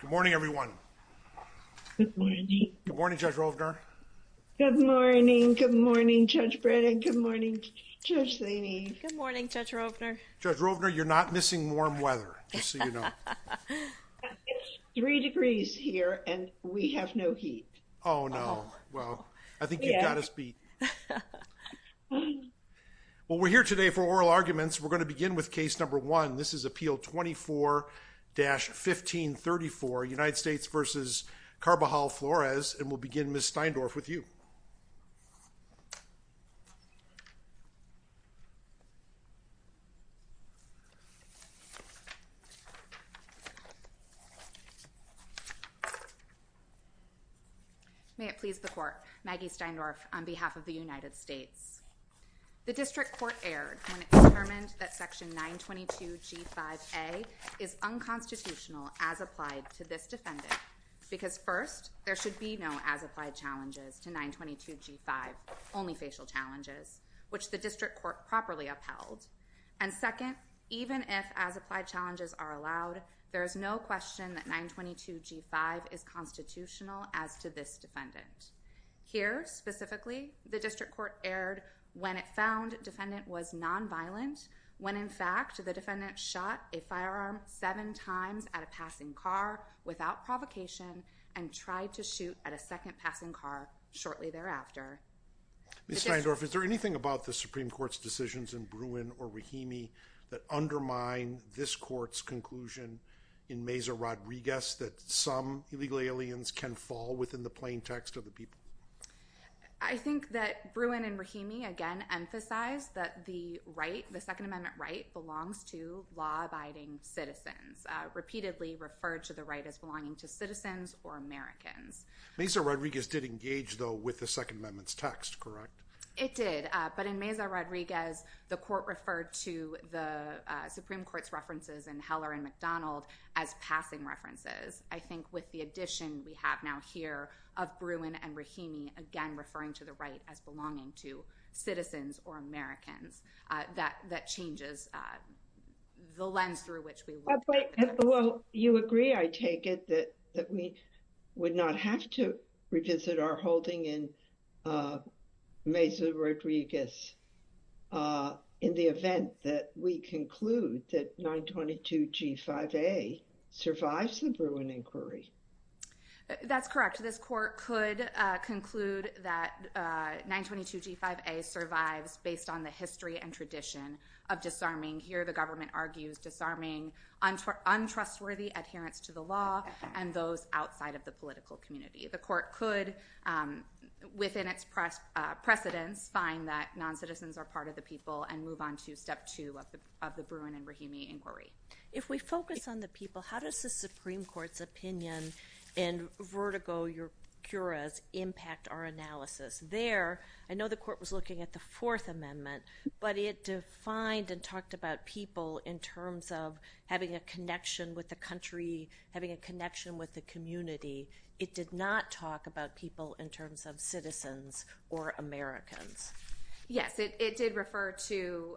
Good morning everyone. Good morning. Good morning Judge Rovner. Good morning. Good morning Judge Brennan. Good morning Judge Laney. Good morning Judge Rovner. Judge Rovner you're not missing warm weather just so you know. It's three degrees here and we have no heat. Oh no well I think you've got us beat. Well we're here today for oral arguments we're going to begin with case number one this is appeal 24-1534 United States v. Carbajal-Flores and we'll begin Ms. Steindorf with you. May it please the court. Maggie Steindorf on behalf of the United States. The district court erred when it determined that section 922 g5a is unconstitutional as applied to this defendant because first there should be no as applied challenges to 922 g5 only facial challenges which the district court properly upheld and second even if as applied challenges are allowed there is no question that 922 g5 is constitutional as to this defendant. Here specifically the district court erred when it found defendant was non-violent when in fact the defendant shot a firearm seven times at a passing car without provocation and tried to shoot at a second passing car shortly thereafter. Ms. Steindorf is there anything about the Supreme Court's decisions in Bruin or Rahimi that undermine this court's conclusion in Mesa Rodriguez that some illegal aliens can fall within the plain text of the people? I think that Bruin and Rahimi again emphasize that the right the second amendment right belongs to law-abiding citizens repeatedly referred to the right as belonging to citizens or Americans. Mesa Rodriguez did engage though with the second amendment's text correct? It did but in Mesa Rodriguez the court referred to the Supreme Court's references in Heller and McDonald as passing references. I think with the addition we have now here of Bruin and Rahimi again referring to the right as belonging to citizens or Americans that that changes the lens through which we well you agree I take it that we would not have to revisit our holding in Mesa Rodriguez in the event that we conclude that 922 g5a survives the Bruin inquiry? That's correct this court could conclude that 922 g5a survives based on the history and tradition of disarming here the government argues disarming untrustworthy adherence to the law and those outside of the political community. The court could within its precedents find that non-citizens are part of the people and move on to step two of the of the Bruin and Rahimi inquiry. If we focus on the people how does the Supreme Court's opinion and vertigo your cura's impact our analysis? There I know the court was looking at the fourth having a connection with the community it did not talk about people in terms of citizens or Americans. Yes it did refer to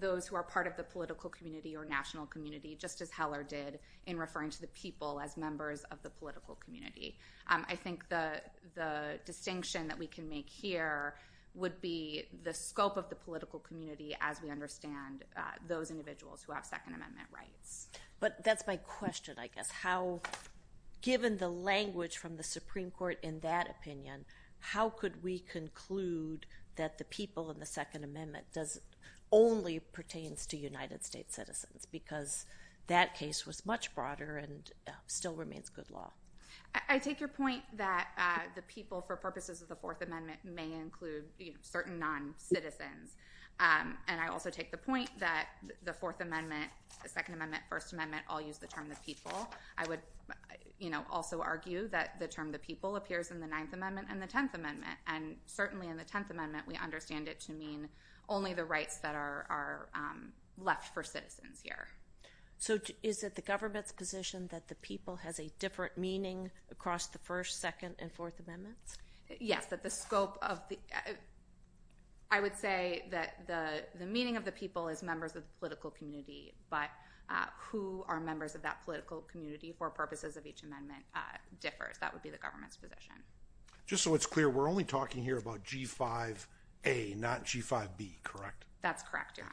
those who are part of the political community or national community just as Heller did in referring to the people as members of the political community. I think the the distinction that we can make here would be the scope of the political community as understand those individuals who have second amendment rights. But that's my question I guess how given the language from the Supreme Court in that opinion how could we conclude that the people in the second amendment does only pertains to United States citizens because that case was much broader and still remains good law. I take your point that the people for purposes of the amendment may include certain non-citizens and I also take the point that the fourth amendment the second amendment first amendment all use the term the people. I would you know also argue that the term the people appears in the ninth amendment and the tenth amendment and certainly in the tenth amendment we understand it to mean only the rights that are left for citizens here. So is it the government's position that the people has a different meaning across the first second and fourth amendments? Yes that the scope of the I would say that the the meaning of the people is members of the political community but who are members of that political community for purposes of each amendment differs that would be the government's position. Just so it's clear we're only talking here about g5a not g5b correct? That's correct your honor.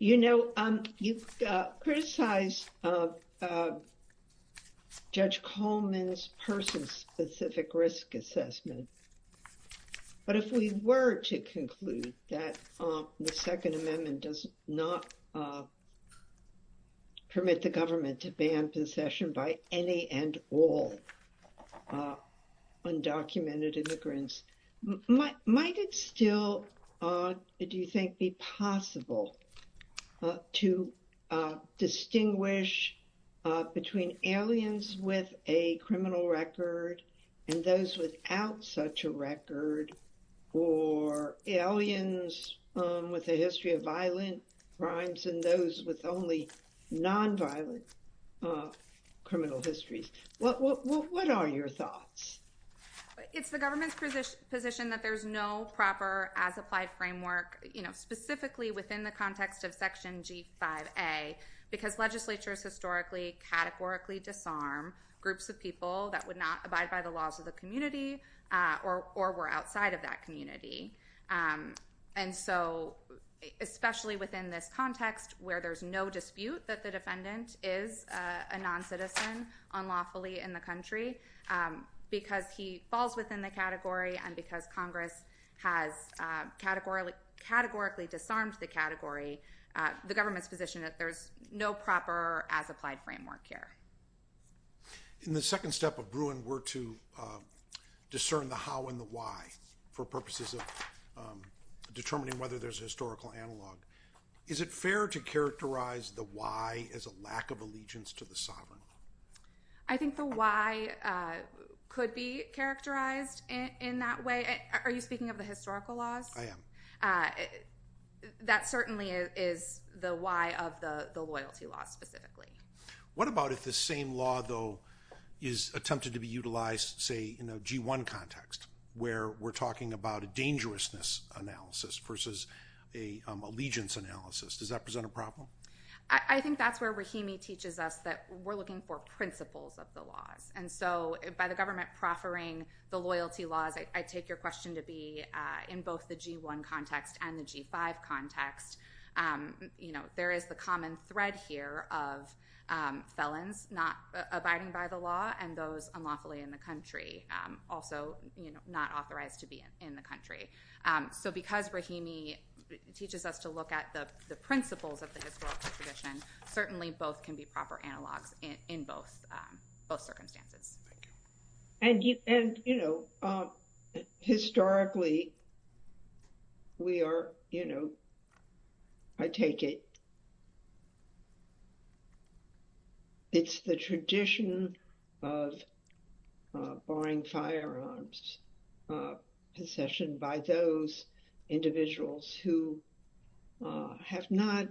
You know you've criticized Judge Coleman's person-specific risk assessment but if we were to conclude that the second amendment does not permit the government to ban possession by any and all undocumented immigrants might it still do you think be possible to distinguish between aliens with a criminal record and those without such a record or aliens with a history of violent crimes and those with only non-violent criminal histories? What are your thoughts? It's the government's position position that there's no proper as applied framework you know specifically within the context of section g5a because legislatures historically categorically disarm groups of people that would not abide by the laws of the community or or were outside of that community and so especially within this context where there's no dispute that the defendant is a non-citizen unlawfully in the country because he falls within the category and because congress has categorically categorically disarmed the category the government's position that there's no proper as applied framework here. In the second step of Bruin were to discern the how and the why for purposes of determining whether there's a historical analog is it fair to characterize the why as a lack of allegiance to the sovereign? I think the why could be characterized in that way are you speaking of the historical laws? I am. That certainly is the why of the the loyalty law specifically. What about if the same law though is attempted to be utilized say in a g1 context where we're talking about a dangerousness analysis versus a allegiance analysis does that present a problem? I think that's where Rahimi teaches us that we're looking for principles of the laws and so by the government proffering the loyalty laws I take your question to be in both the g1 context and the g5 context you know there is the common thread here of felons not abiding by the law and those unlawfully in the country also you know not authorized to be in the country. So because Rahimi teaches us to look at the the principles of the historical tradition certainly both can be proper analogs in both both circumstances. And you and you know historically we are you know I take it it's the tradition of borrowing firearms possession by those individuals who have not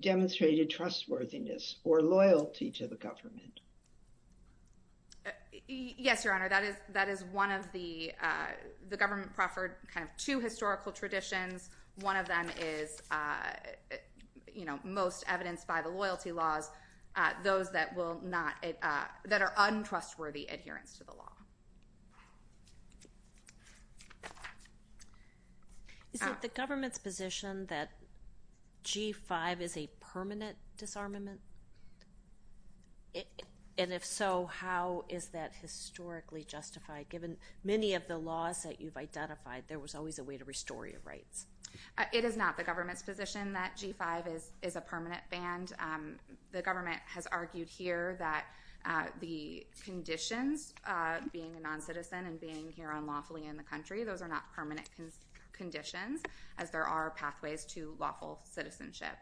demonstrated trustworthiness or loyalty to the government. Yes your honor that is that is one of the uh the government proffered kind of two historical traditions one of them is uh you know most evidenced by the loyalty laws uh those that will not uh that are untrustworthy adherence to the law. Is it the government's position that g5 is a permanent disarmament? And if so how is that historically justified given many of the laws that you've identified there was always a way to restore your rights? It is not the government's position that g5 is is a permanent band. The government has argued here that uh the conditions uh being a non-citizen and being here unlawfully in the country those are not permanent conditions as there are pathways to lawful citizenship.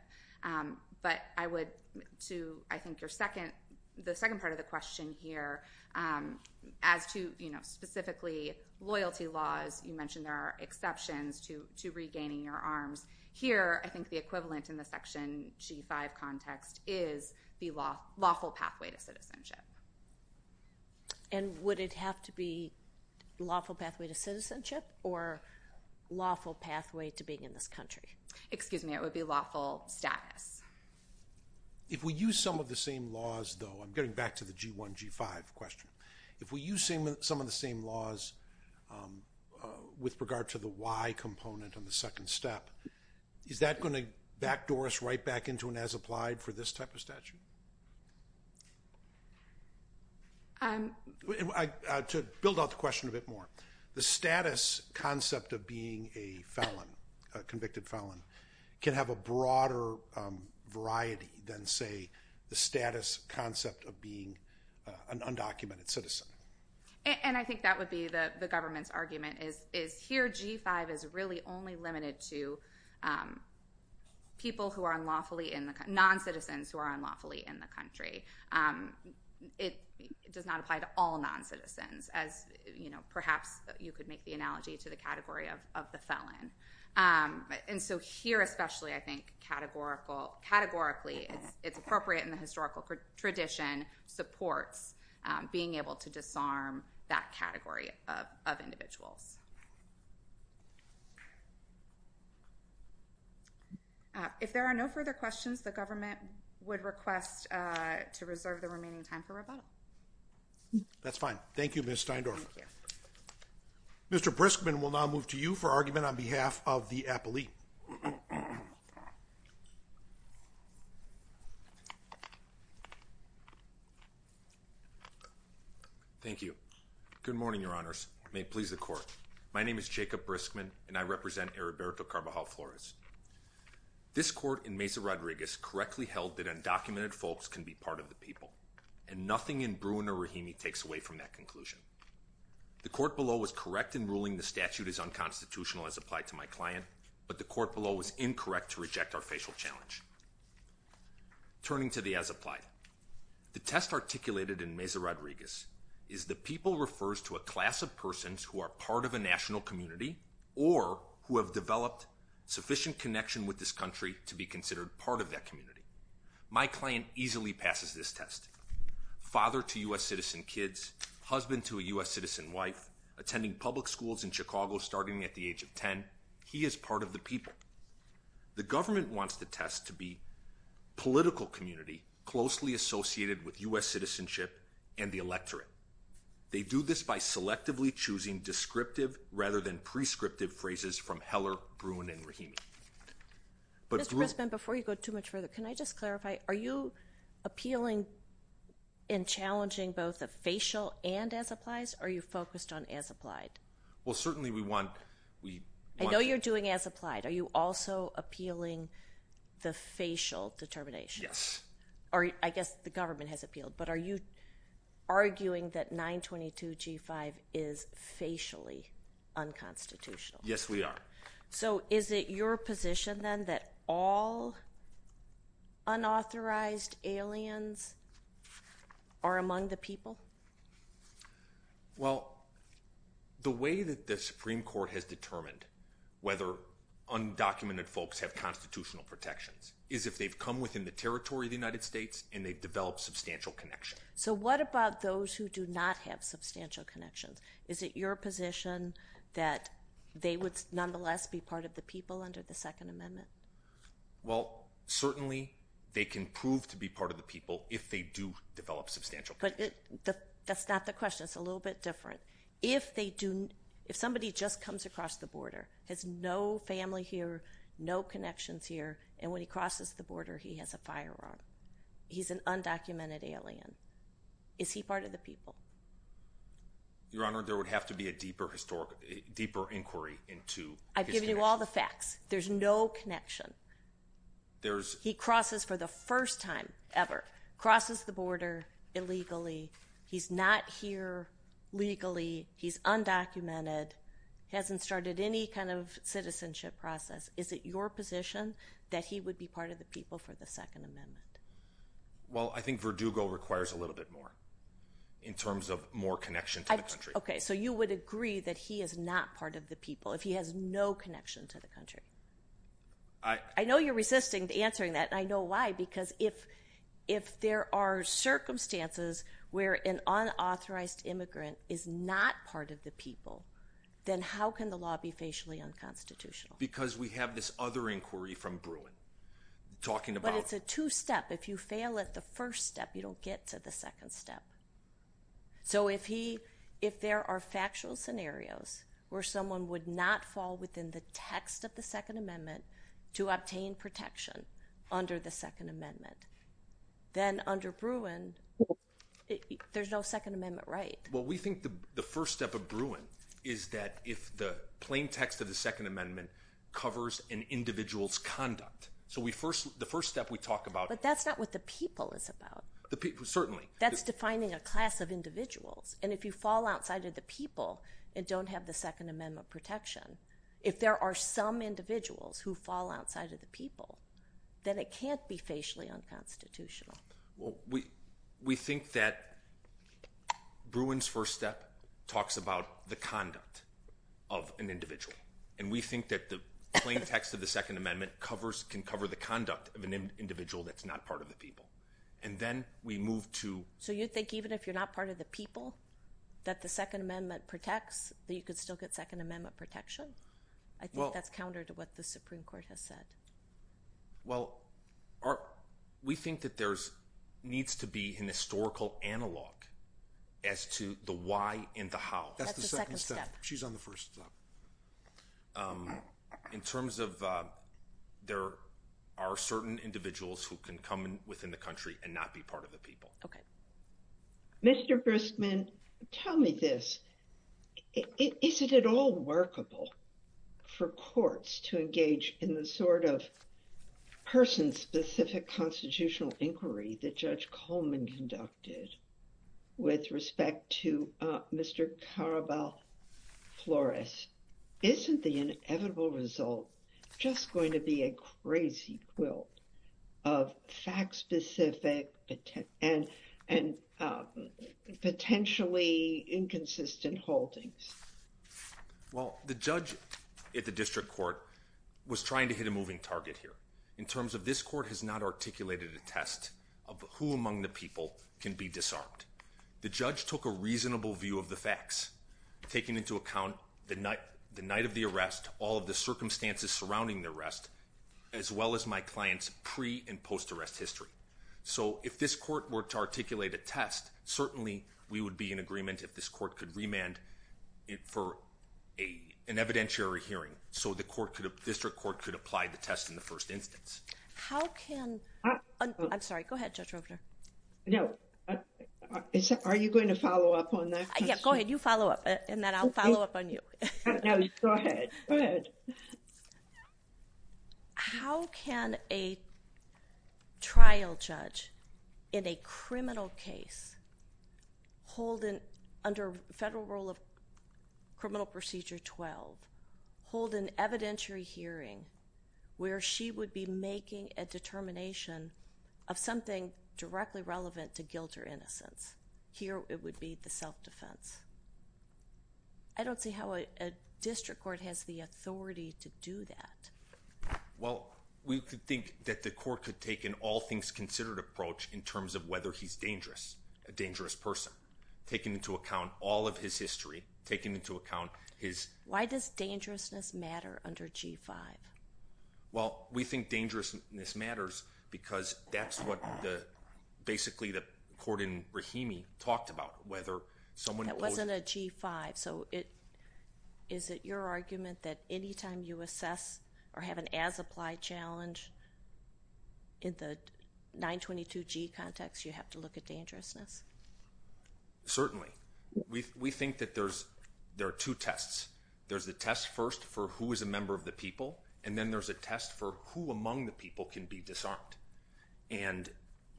But I would to I think your second the second part of the question here as to you know specifically loyalty laws you mentioned there are exceptions to to regaining your arms here I think the equivalent in the section g5 context is the law lawful pathway to citizenship. And would it have to be lawful pathway to citizenship or lawful pathway to being in this country? Excuse me it would be lawful status. If we use some of the same laws though I'm getting back to the g1 g5 question if we use some of the same laws um with regard to the y component on the second step is that going to backdoor us right back into an as applied for this type of statute? Um I to build out the question a bit more the status concept of being a felon a convicted felon can have a broader variety than say the status concept of being an undocumented citizen. And I think that would be the the government's argument is is here g5 is really only limited to um people who are unlawfully in the non-citizens who are unlawfully in the country. Um it does not apply to all non-citizens as you know perhaps you could make the analogy to the category of of the felon. Um and so here especially I think categorical categorically it's appropriate in the historical tradition supports um being able to disarm that category of of individuals. Uh if there are no further questions the government would request uh to reserve the remaining time for rebuttal. That's fine thank you Ms. Steindorf. Mr. Briskman will now move to you for argument on behalf of the appellee. Thank you. Good morning your honors. May it please the court. My name is Jacob Briskman and I represent Heriberto Carvajal Flores. This court in Mesa Rodriguez correctly held that undocumented folks can be part of the people and nothing in Bruin or Rahimi takes away from that the court below was correct in ruling the statute is unconstitutional as applied to my client but the court below was incorrect to reject our facial challenge. Turning to the as applied the test articulated in Mesa Rodriguez is the people refers to a class of persons who are part of a national community or who have developed sufficient connection with this country to be considered part of that community. My client easily passes this test father to U.S. citizen kids, husband to a U.S. citizen wife, attending public schools in Chicago starting at the age of 10. He is part of the people. The government wants the test to be political community closely associated with U.S. citizenship and the electorate. They do this by selectively choosing descriptive rather than prescriptive phrases from Heller, Bruin, and Rahimi. Mr. Briskman before you go too much further can I just clarify are you appealing in challenging both the facial and as applies or are you focused on as applied? Well certainly we want we I know you're doing as applied are you also appealing the facial determination? Yes. Or I guess the government has appealed but are you arguing that 922 g5 is facially unconstitutional? Yes we are. So is it your position then that all unauthorized aliens are among the people? Well the way that the Supreme Court has determined whether undocumented folks have constitutional protections is if they've come within the territory of the United States and they've developed substantial connection. So what about those who do not have substantial connections? Is it your position that they would nonetheless be part of the people under the second amendment? Well certainly they can prove to be part of the people if they do develop substantial. But that's not the question it's a little bit different. If they do if somebody just comes across the border has no family here no connections here and when he crosses the border he has a firearm. He's an undocumented alien. Is he part of the people? Your honor there would have to be a deeper historic deeper inquiry into. I've given you all the facts. There's no connection. There's he crosses for the first time ever crosses the border illegally. He's not here legally. He's undocumented hasn't started any kind of citizenship process. Is it your position that he would be part of the people for the second amendment? Well I think Verdugo requires a little bit more in terms of more connection to the country. Okay so you would agree that he is not part of the people if he has no connection to the country. I know you're resisting answering that I know why because if if there are circumstances where an unauthorized immigrant is not part of the people then how can the law be facially unconstitutional? Because we have this other inquiry from Bruin talking about. But it's a two-step if you fail at the first step you don't get to the second step. So if he if there are factual scenarios where someone would not fall within the text of the second amendment to obtain protection under the second amendment then under Bruin there's no second amendment right. Well we think the first step of Bruin is that if the plain text of the second amendment covers an individual's conduct. So we first the first step we talk about. But that's not what the people is about. The people certainly. That's defining a class of individuals and if you fall outside of the people and don't have the second amendment protection if there are some individuals who fall outside of the people then it can't be facially unconstitutional. Well we we think that Bruin's first step talks about the conduct of an individual and we think that the plain text of the second amendment covers can cover the conduct of an individual that's not part of the people. And then we move to. So you think even if you're not part of the people that the second amendment protects that you could still get second amendment protection. I think that's counter to what the Supreme Court has said. Well our we think that there's needs to be an historical analog as to the why and the how. That's the second step. She's on the first step. In terms of there are certain individuals who can come in within the country and not be part of the people. Okay. Mr. Gristman tell me this. Is it at all workable for courts to engage in the sort of person specific constitutional inquiry that Judge Coleman conducted with respect to Mr. Caraval Flores? Isn't the inevitable result just going to be a crazy quilt of fact specific and and potentially inconsistent holdings? Well the judge at the district court was trying to hit a moving target here. In terms of this court has not articulated a test of who among the people can be disarmed. The judge took a reasonable view of the facts taking into account the night the night of the arrest all of the circumstances surrounding the arrest as well as my clients pre and post arrest history. So if this court were to articulate a test certainly we would be in agreement if this court could remand it for a an evidentiary hearing so the court could district court could apply the test in the first instance. How can I'm sorry go ahead Judge Roper. No are you going to follow up on that? Yeah go ahead you follow up and then I'll follow up on you. No go ahead go ahead. How can a trial judge in a criminal case hold an under federal rule of criminal procedure 12 hold an evidentiary hearing where she would be making a determination of something directly relevant to guilt or innocence? Here it would be the self-defense. I don't see how a district court has the authority to do that. Well we could think that the court could take an all things considered approach in terms of he's dangerous a dangerous person taking into account all of his history taking into account his. Why does dangerousness matter under g5? Well we think dangerousness matters because that's what the basically the court in Rahimi talked about whether someone. That wasn't a g5 so it is it your argument that anytime you assess or have an as applied challenge in the 922 g context you have to look at dangerousness. Certainly we think that there's there are two tests there's the test first for who is a member of the people and then there's a test for who among the people can be disarmed and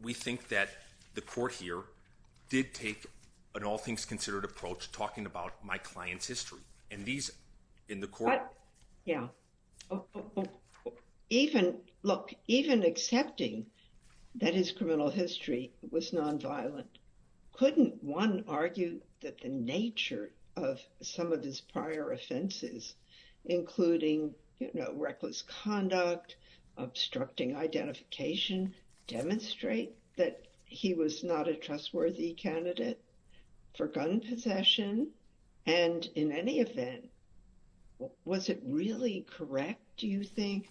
we think that the court here did take an all things considered approach talking about my client's history and these in the court. Yeah oh even look even accepting that his criminal history was non-violent couldn't one argue that the nature of some of his prior offenses including you know reckless conduct obstructing identification demonstrate that he was not a trustworthy candidate for gun possession and in any event was it really correct do you think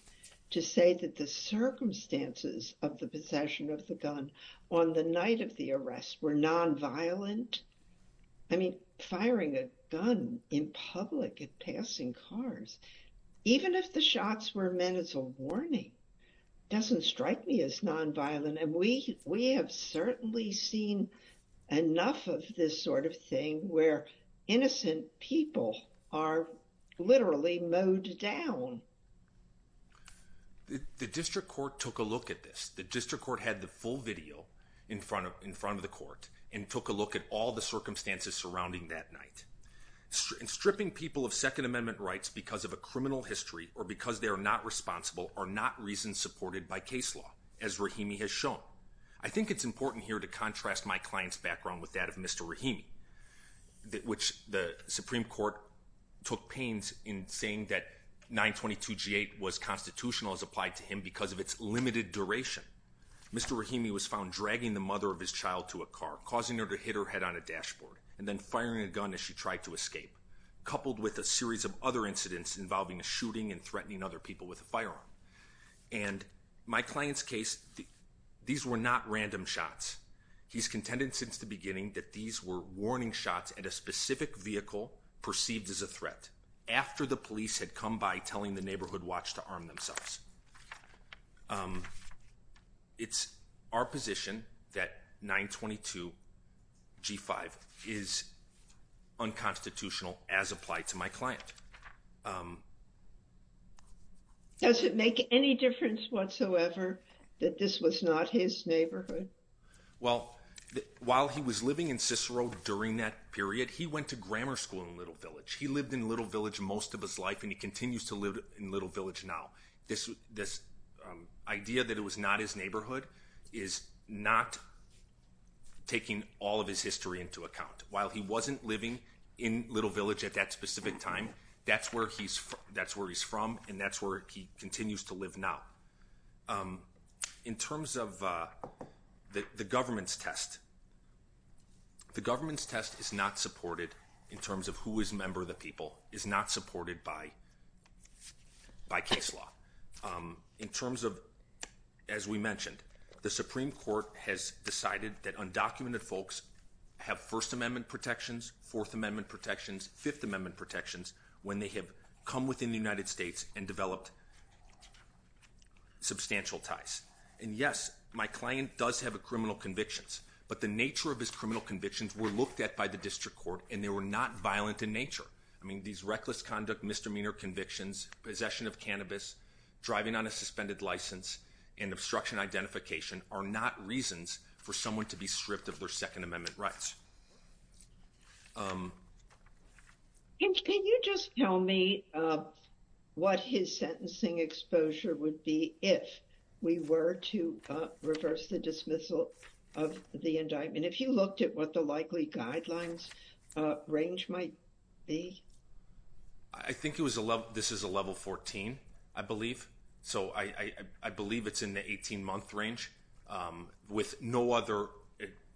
to say that the circumstances of the possession of the gun on the night of the arrest were non-violent? I mean firing a gun in public at passing cars even if the shots were meant as a warning doesn't strike me as non-violent and we we have certainly seen enough of this sort of thing where innocent people are literally mowed down. The district court took a look at this the district court had the full video in front of in front of the court and took a look at all the circumstances surrounding that night and stripping people of second amendment rights because of a criminal history or because they are not responsible are not reasons supported by case law as Rahimi has shown. I think it's important here to contrast my client's background with that of Mr. Rahimi which the supreme court took pains in saying that 922 g8 was constitutional as applied to him because of its limited duration. Mr. Rahimi was found dragging the mother of his child to a car causing her to hit her head on a dashboard and then firing a gun as she tried to escape coupled with a series of other incidents involving a shooting and threatening other people with a he's contended since the beginning that these were warning shots at a specific vehicle perceived as a threat after the police had come by telling the neighborhood watch to arm themselves. It's our position that 922 g5 is unconstitutional as applied to my client. Um does it make any difference whatsoever that this was not his neighborhood? Well while he was living in Cicero during that period he went to grammar school in Little Village. He lived in Little Village most of his life and he continues to live in Little Village now. This this idea that it was not his neighborhood is not taking all of his history into account. While he wasn't living in Little Village at that specific time that's where he's that's where he's from and that's where he continues to live now. In terms of the government's test the government's test is not supported in terms of who is member of the people is not supported by by case law. In terms of as we mentioned the supreme court has decided that undocumented folks have first amendment protections, fourth amendment protections, fifth amendment protections when they have come within the United States and developed substantial ties. And yes my client does have a criminal convictions but the nature of his criminal convictions were looked at by the district court and they were not violent in nature. I mean these reckless conduct misdemeanor convictions, possession of cannabis, driving on a suspended license and obstruction identification are not reasons for someone to be stripped of their second amendment rights. Can you just tell me what his sentencing exposure would be if we were to reverse the dismissal of the indictment? If you looked at what the likely guidelines range might be? I think it was a level this is a level 14 I believe so I believe it's in the 18 month range with no other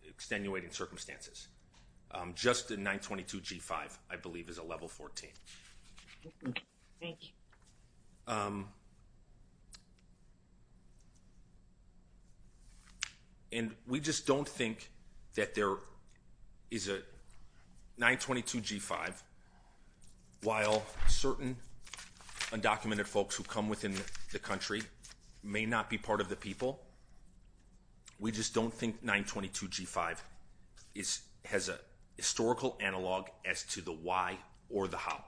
extenuating circumstances. Just a 922 g5 I believe is a level 14. Thank you. And we just don't think that there is a 922 g5 while certain undocumented folks who come within the country may not be part of the people we just don't think 922 g5 is has a historical analog as to the why or the how.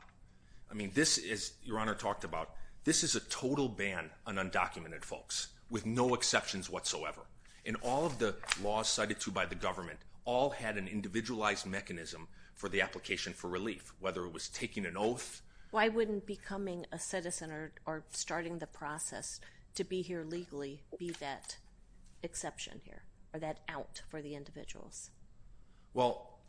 I mean this is your honor talked about this is a total ban on undocumented folks with no exceptions whatsoever and all of the laws cited to by the government all had an individualized mechanism for the application for relief whether it was taking an oath. Why wouldn't becoming a citizen or starting the process to be here legally be that exception here that out for the individuals? Well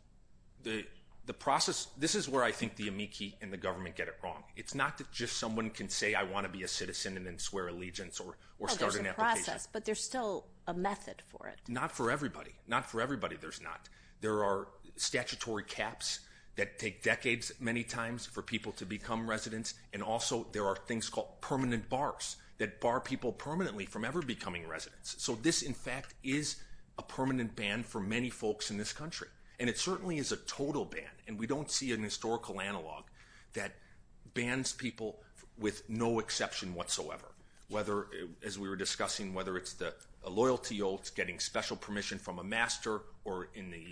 the the process this is where I think the amici and the government get it wrong. It's not that just someone can say I want to be a citizen and then swear allegiance or or start an application. But there's still a method for it? Not for everybody not for everybody there's not. There are statutory caps that take decades many times for people to become residents and also there are things called permanent bars that bar people permanently from becoming residents. So this in fact is a permanent ban for many folks in this country and it certainly is a total ban and we don't see an historical analog that bans people with no exception whatsoever. Whether as we were discussing whether it's the loyalty oath getting special permission from a master or in the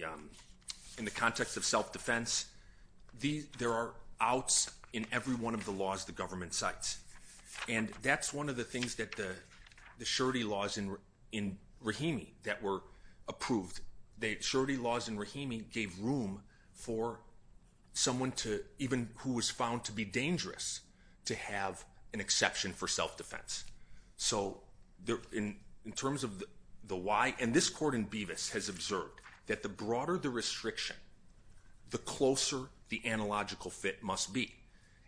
in the context of self-defense. There are outs in every one of the laws the government cites and that's one of the things that the the surety laws in in Rahimi that were approved. The surety laws in Rahimi gave room for someone to even who was found to be dangerous to have an exception for self-defense. So there in in terms of the why and this court in Bevis has observed that the broader the restriction the closer the analogical fit must be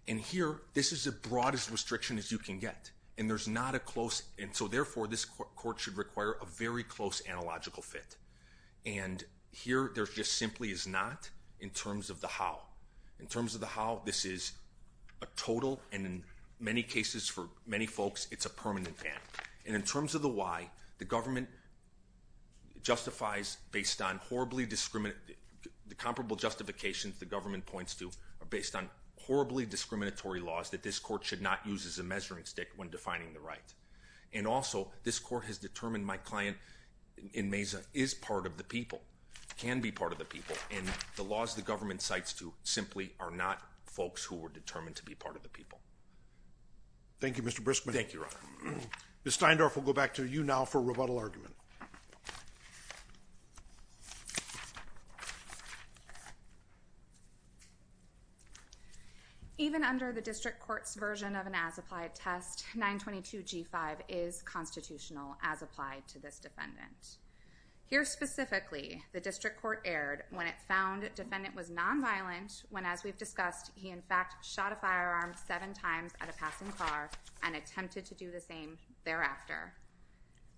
and here this is the broadest restriction as you can get and there's not a close and so therefore this court should require a very close analogical fit and here there's just simply is not in terms of the how. In terms of the how this is a total and in many cases for many folks it's a permanent ban and in terms of the why the government justifies based on horribly discriminate the comparable justifications the government points to are based on horribly discriminatory laws that this court should not use as a measuring stick when defining the right and also this court has determined my client in Mesa is part of the people can be part of the people and the laws the government cites to simply are not folks who were determined to be part of the people. Thank you Mr. Briskman. Ms. Steindorf will go back to you now for rebuttal argument. Even under the district court's version of an as-applied test 922 g5 is constitutional as applied to this defendant. Here specifically the district court erred when it found defendant was non-violent when as we've discussed he in fact shot a firearm seven times at a passing car and attempted to do the same thereafter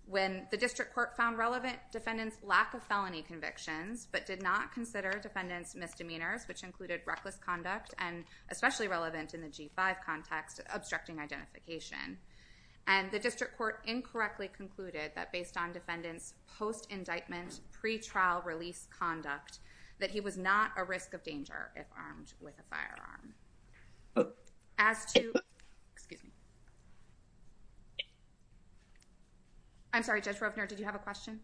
when the district court found relevant defendants lack of felony convictions but did not consider defendants misdemeanors which included reckless conduct and especially relevant in the g5 context obstructing identification and the district court incorrectly concluded that based on defendants post-indictment pre-trial release conduct that he was not a risk of danger if armed with a firearm. As to, excuse me, I'm sorry Judge Rovner did you have a question?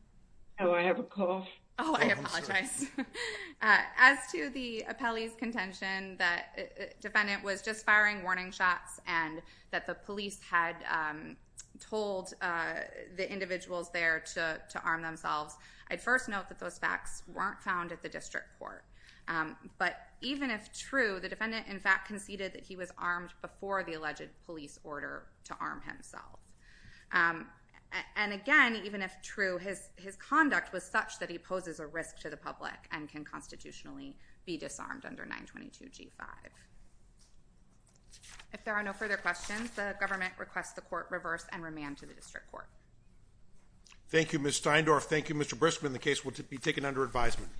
Oh I have a call. Oh I apologize. As to the appellee's contention that defendant was just firing warning shots and that the police had told the individuals there to to arm themselves I'd first note that those facts weren't found at the district court but even if true the defendant in fact conceded that he was armed before the alleged police order to arm himself and again even if true his his conduct was such that he poses a risk to the public and can constitutionally be disarmed under 922 g5. If there are no further questions the government requests the court reverse and remand to the district court. Thank you Ms. Steindorf. Thank you Mr. Briskman. The case will be taken under advisement.